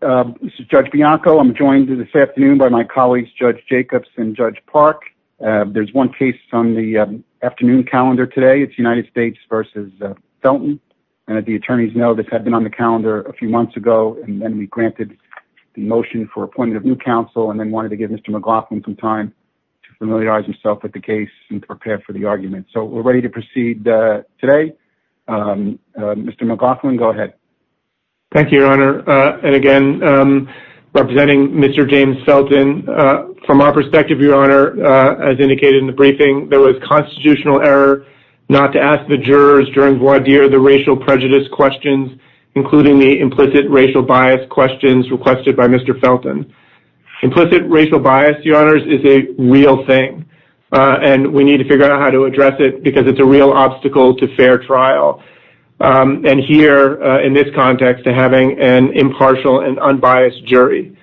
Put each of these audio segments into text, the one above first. This is Judge Bianco. I'm joined this afternoon by my colleagues Judge Jacobs and Judge Park. There's one case on the afternoon calendar today. It's United States v. Felton. And as the attorneys know, this had been on the calendar a few months ago. And then we granted the motion for appointment of new counsel and then wanted to give Mr. McLaughlin some time to familiarize himself with the case and prepare for the argument. So we're ready to proceed today. Mr. McLaughlin, go ahead. Thank you, Your Honor. And again, representing Mr. James Felton, from our perspective, Your Honor, as indicated in the briefing, there was constitutional error not to ask the jurors during voir dire the racial prejudice questions, including the implicit racial bias questions requested by Mr. Felton. Implicit racial bias, Your Honors, is a real thing. And we need to figure out how to address it because it's a real obstacle to fair trial. And here, in this context, to having an impartial and unbiased jury.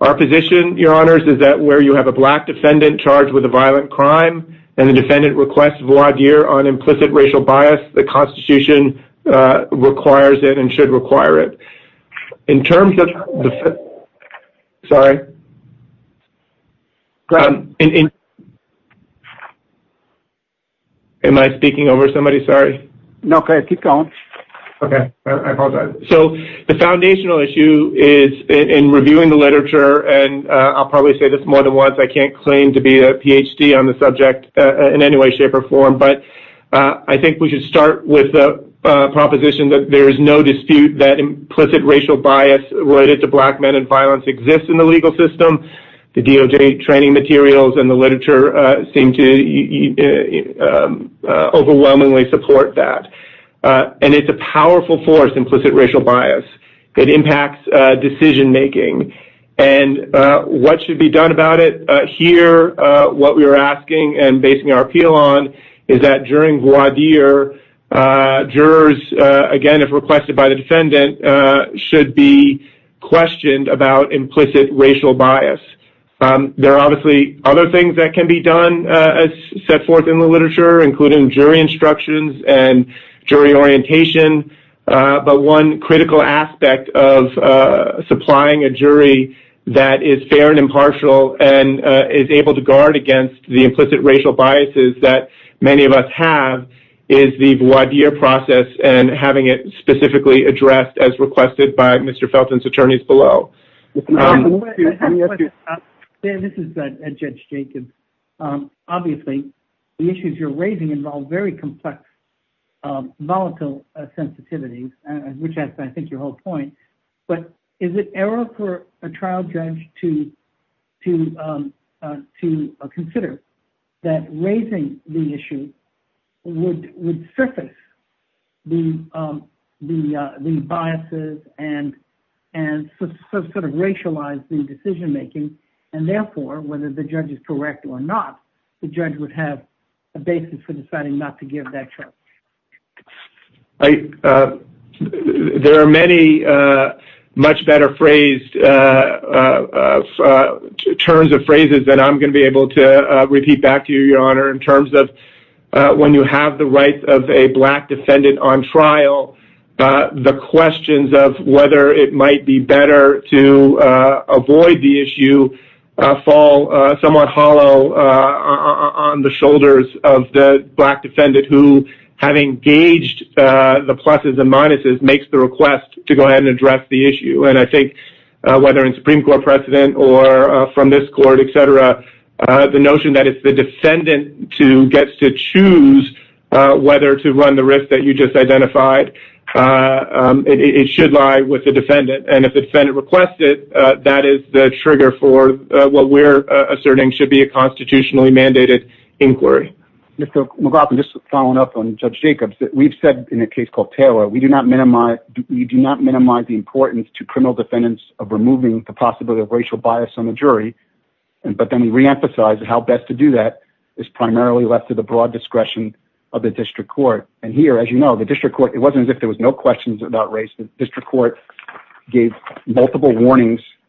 Our position, Your Honors, is that where you have a black defendant charged with a violent crime and the defendant requests voir dire on implicit racial bias, the Constitution requires it and should require it. In terms of the... Sorry. Am I speaking over somebody? Sorry. Okay. Keep going. Okay. I apologize. So the foundational issue is, in reviewing the literature, and I'll probably say this more than once, I can't claim to be a Ph.D. on the subject in any way, shape, or form, but I think we should with the proposition that there is no dispute that implicit racial bias related to black men and violence exists in the legal system. The DOJ training materials and the literature seem to overwhelmingly support that. And it's a powerful force, implicit racial bias. It impacts decision making. And what should be done about it? Here, what we were asking and basing our appeal on is that during voir dire, jurors, again, if requested by the defendant, should be questioned about implicit racial bias. There are obviously other things that can be done, set forth in the literature, including jury instructions and jury orientation. But one critical aspect of supplying a jury that is fair and impartial and is able to guard against the implicit racial biases that many of us have is the voir dire process and having it specifically addressed as requested by Mr. Felton's attorneys below. This is Judge Jacobs. Obviously, the issues you're raising involve very complex volatile sensitivities, which I think is your whole point. But is it for a trial judge to consider that raising the issue would surface the biases and sort of racialize the decision making? And therefore, whether the judge is correct or not, the judge would have a basis for deciding not to give that trial. There are many much better phrased terms of phrases that I'm going to be able to repeat back to you, Your Honor, in terms of when you have the rights of a black defendant on trial, the questions of whether it might be better to avoid the issue fall somewhat hollow on the shoulders of the black defendant who, having gauged the pluses and minuses, makes the request to go ahead and address the issue. And I think whether in Supreme Court precedent or from this court, et cetera, the notion that if the defendant gets to choose whether to run the risk that you just identified, it should lie with the that is the trigger for what we're asserting should be a constitutionally mandated inquiry. Mr. McLaughlin, just following up on Judge Jacobs, we've said in a case called Taylor, we do not minimize the importance to criminal defendants of removing the possibility of racial bias on the jury. But then we reemphasize how best to do that is primarily left to the broad discretion of the district court. And here, as you know, the district court, it wasn't as if there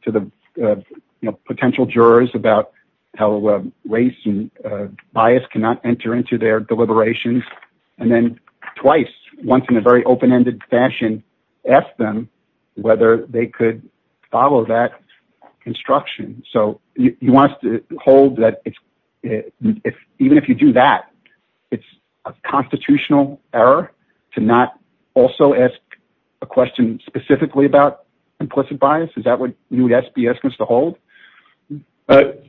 to the potential jurors about how race and bias cannot enter into their deliberations. And then twice, once in a very open-ended fashion, ask them whether they could follow that construction. So you want us to hold that even if you do that, it's a constitutional error to not also ask a question specifically about implicit bias. Is that what you would ask us to hold? The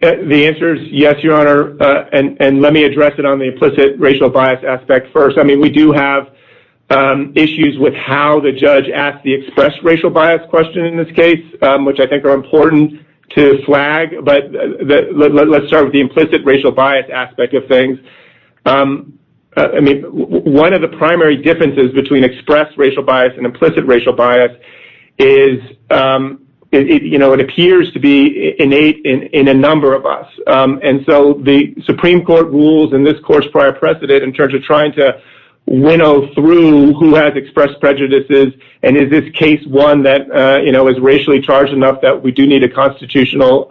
answer is yes, Your Honor. And let me address it on the implicit racial bias aspect first. I mean, we do have issues with how the judge asked the express racial bias question in this case, which I think are important to flag. But let's start with the implicit racial bias aspect of things. I mean, one of the primary differences between express racial bias and implicit racial bias is it appears to be innate in a number of us. And so the Supreme Court rules in this court's prior precedent in terms of trying to winnow through who has expressed prejudices. And is this case one that is racially charged enough that we do need a constitutional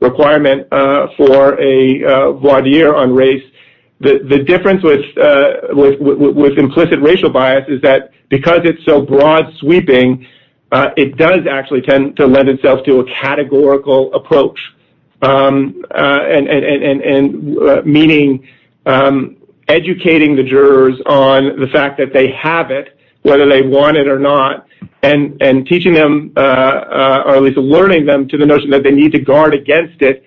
requirement for a voir dire on race? The difference with implicit racial bias is that because it's so broad sweeping, it does actually tend to lend itself to a categorical approach. And meaning educating the jurors on the fact that they have it, whether they want it or not, and teaching them, or at least alerting them to the notion that they need to guard against it,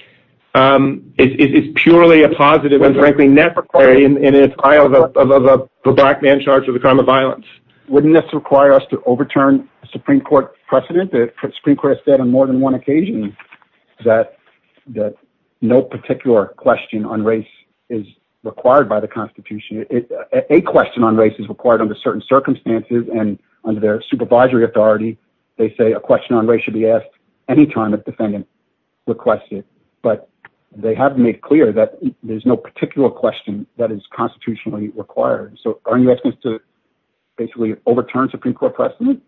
is purely a positive and frankly, nefarious trial of a black man charged with a crime of violence. Wouldn't this require us to overturn a Supreme Court precedent? The Supreme Court has said on more than one occasion that no particular question on race is required by the Constitution. A question on race is required under certain circumstances. And under their supervisory authority, they say a question on race should be asked anytime a defendant requested. But they have made clear that there's no particular question that is constitutionally required. So are you asking us to basically overturn Supreme Court precedent?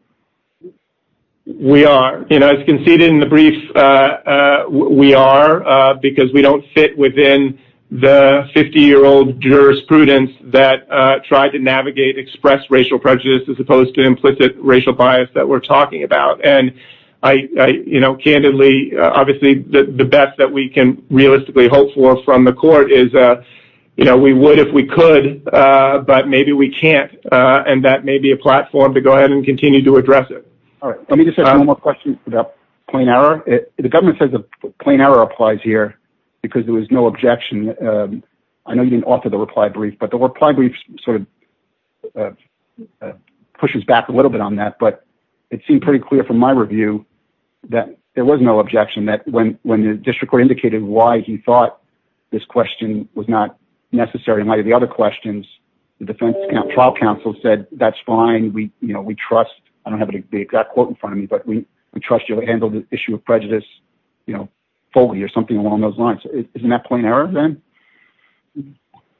We are. As conceded in the brief, we are, because we don't fit within the 50-year-old jurisprudence that tried to navigate express racial prejudice as opposed to implicit racial bias that we're talking about. And candidly, obviously, the best that we can realistically hope for from the court is we would if we could, but maybe we can't. And that may be a platform to go ahead and The government says a plain error applies here because there was no objection. I know you didn't offer the reply brief, but the reply brief sort of pushes back a little bit on that. But it seemed pretty clear from my review that there was no objection that when the district court indicated why he thought this question was not necessary in light of the other questions, the defense trial counsel said, that's fine. We trust, I don't have the exact quote in front of me, but we trust you handled the issue of prejudice fully or something along those lines. Isn't that plain error then?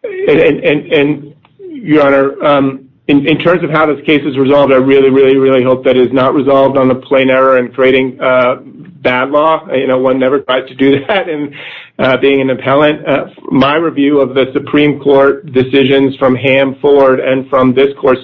And your honor, in terms of how this case is resolved, I really, really, really hope that is not resolved on a plain error and creating bad law. One never tried to do that and being an appellant. My review of the Supreme Court decisions from Ham, Ford and from this court's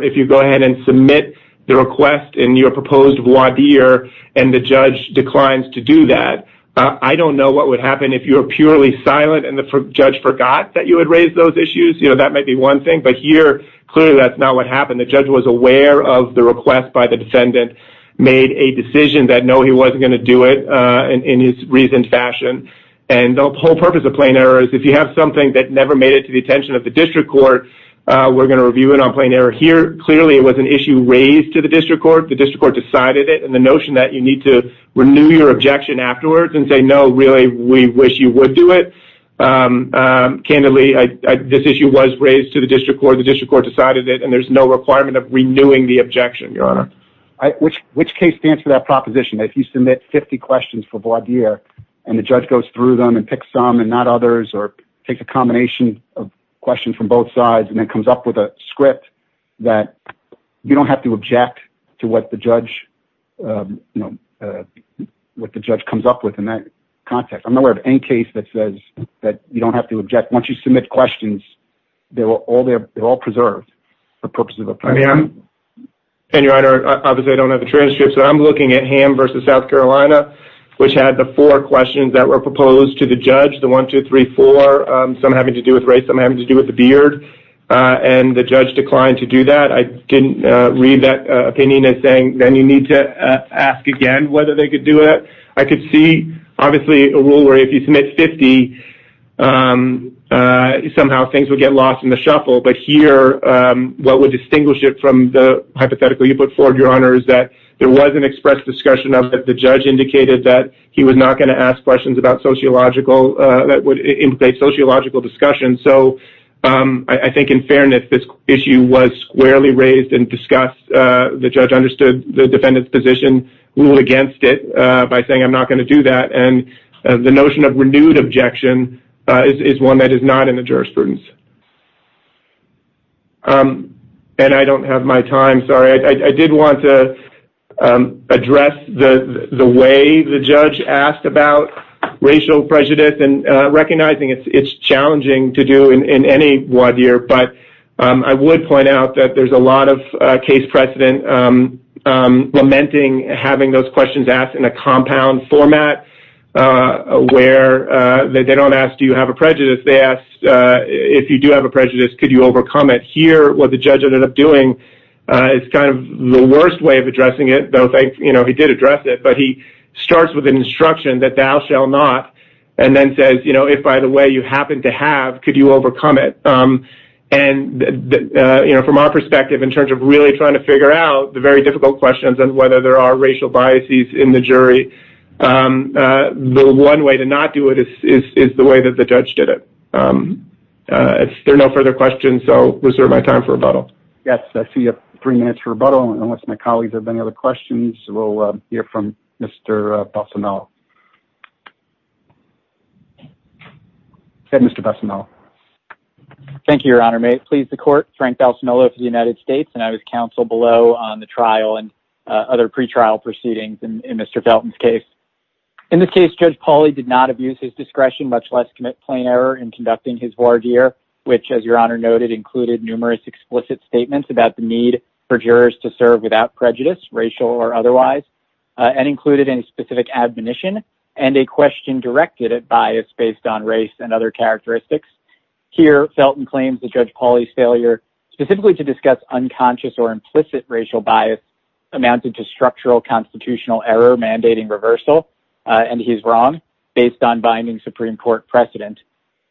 if you go ahead and submit the request in your proposed voir dire and the judge declines to do that. I don't know what would happen if you were purely silent and the judge forgot that you had raised those issues. That might be one thing. But here, clearly that's not what happened. The judge was aware of the request by the defendant, made a decision that no, he wasn't going to do it in his reasoned fashion. And the whole purpose of plain error is if you have something that never made it to the attention of the district court, we're going to review it on plain error here. Clearly, it was an issue raised to the district court. The district court decided it and the notion that you need to renew your objection afterwards and say, no, really, we wish you would do it. Candidly, this issue was raised to the district court. The district court decided it and there's no requirement of renewing the objection. Your honor. Which case stands for that proposition? If you submit 50 questions for voir dire and the judge goes through them and pick some and not questions from both sides and comes up with a script that you don't have to object to what the judge, you know, what the judge comes up with in that context. I'm not aware of any case that says that you don't have to object. Once you submit questions, they're all preserved. And your honor, obviously I don't have the transcripts, but I'm looking at Ham versus South Carolina, which had the four questions that were proposed to the judge, the one, two, three, four, some having to do with race, some having to do with the beard. And the judge declined to do that. I didn't read that opinion as saying, then you need to ask again whether they could do it. I could see obviously a rule where if you submit 50, somehow things would get lost in the shuffle. But here, what would distinguish it from the hypothetical you put forward, your honor, is that there was an express discussion of that. The judge indicated that he was not going to ask questions about sociological, that would implicate sociological discussion. So I think in fairness, this issue was squarely raised and discussed. The judge understood the defendant's position, ruled against it by saying, I'm not going to do that. And the notion of renewed objection is one that is not in the jurisprudence. And I don't have my time, sorry. I did want to address the way the judge asked about racial prejudice and recognizing it's challenging to do in any WAD year. But I would point out that there's a lot of case precedent lamenting having those questions asked in a compound format where they don't ask, do you have a prejudice? They ask, if you do have a prejudice, could you overcome it? Here, what the judge ended up doing is kind of the worst way of addressing it, though he did address it, but he starts with an instruction that thou shall not, and then says, if by the way you happen to have, could you overcome it? And from our perspective, in terms of really trying to figure out the very difficult questions and whether there are racial biases in the jury, the one way to not do it is the way that the judge did it. If there are no further questions, so reserve my time for rebuttal. Yes, I see you have three minutes for rebuttal. Unless my colleagues have any other questions, we'll hear from Mr. Balsamillo. Go ahead, Mr. Balsamillo. Thank you, Your Honor. May it please the court, Frank Balsamillo for the United States, and I was counsel below on the trial and other pretrial proceedings in Mr. Felton's case. In this case, Judge Pauly did not abuse his discretion, much less commit plain error in statements about the need for jurors to serve without prejudice, racial or otherwise, and included any specific admonition and a question directed at bias based on race and other characteristics. Here, Felton claims that Judge Pauly's failure specifically to discuss unconscious or implicit racial bias amounted to structural constitutional error mandating reversal, and he's wrong, based on binding Supreme Court precedent.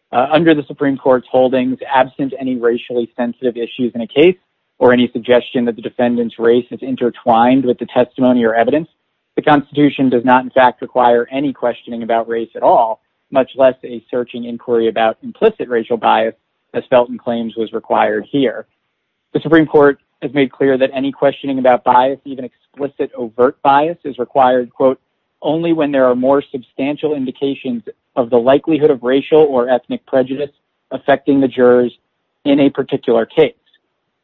Under the Supreme Court's holdings, absent any racially sensitive issues in a case or any suggestion that the defendant's race is intertwined with the testimony or evidence, the Constitution does not, in fact, require any questioning about race at all, much less a searching inquiry about implicit racial bias, as Felton claims was required here. The Supreme Court has made clear that any questioning about bias, even explicit overt bias, is required, quote, only when there are more substantial indications of the likelihood of racial or ethnic prejudice affecting the jurors in a particular case.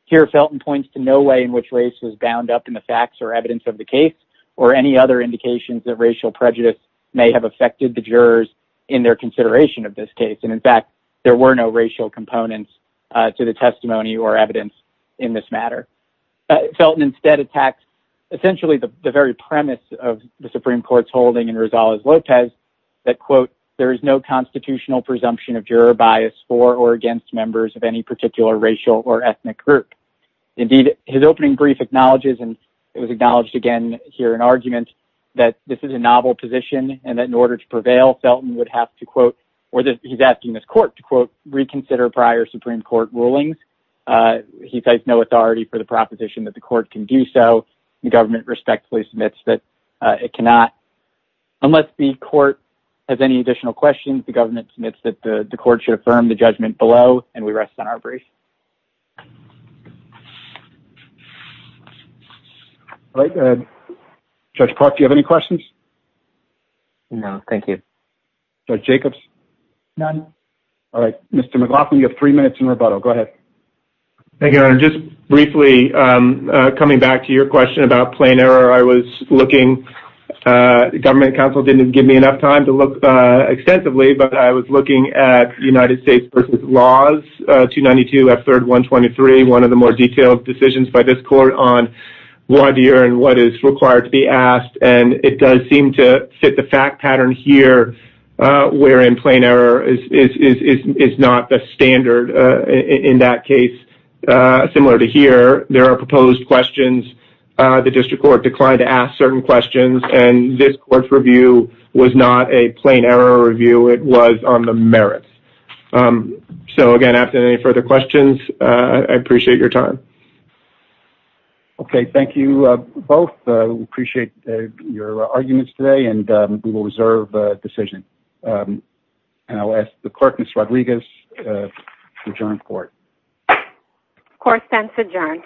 Here, Felton points to no way in which race was bound up in the facts or evidence of the case or any other indications that racial prejudice may have affected the jurors in their consideration of this case, and in fact, there were no racial components to the testimony or evidence in this matter. Felton instead attacks essentially the very premise of the Supreme Court's ruling that, quote, there is no constitutional presumption of juror bias for or against members of any particular racial or ethnic group. Indeed, his opening brief acknowledges, and it was acknowledged again here in argument, that this is a novel position and that in order to prevail, Felton would have to, quote, or he's asking this court to, quote, reconsider prior Supreme Court rulings. He takes no authority for the proposition that the court can do so. The government respectfully submits that it cannot. Unless the court has any additional questions, the government submits that the court should affirm the judgment below, and we rest on our brief. All right. Judge Park, do you have any questions? No, thank you. Judge Jacobs? None. All right. Mr. McLaughlin, you have three minutes in rebuttal. Go ahead. Thank you, Your Honor. Just briefly, coming back to your question about plain error, I was looking. Government counsel didn't give me enough time to look extensively, but I was looking at United States v. Laws 292 F. 3rd 123, one of the more detailed decisions by this court on what is required to be asked, and it does seem to fit the fact pattern here, wherein plain error is not the standard in that case. Similar to here, there are proposed questions. The district court declined to ask certain questions, and this court's review was not a plain error review. It was on the merits. So, again, after any further questions, I appreciate your time. Okay. Thank you, both. We appreciate your arguments today, and we will reserve decision. And I'll ask the clerk, Ms. Rodriguez, to adjourn court. Court stands adjourned.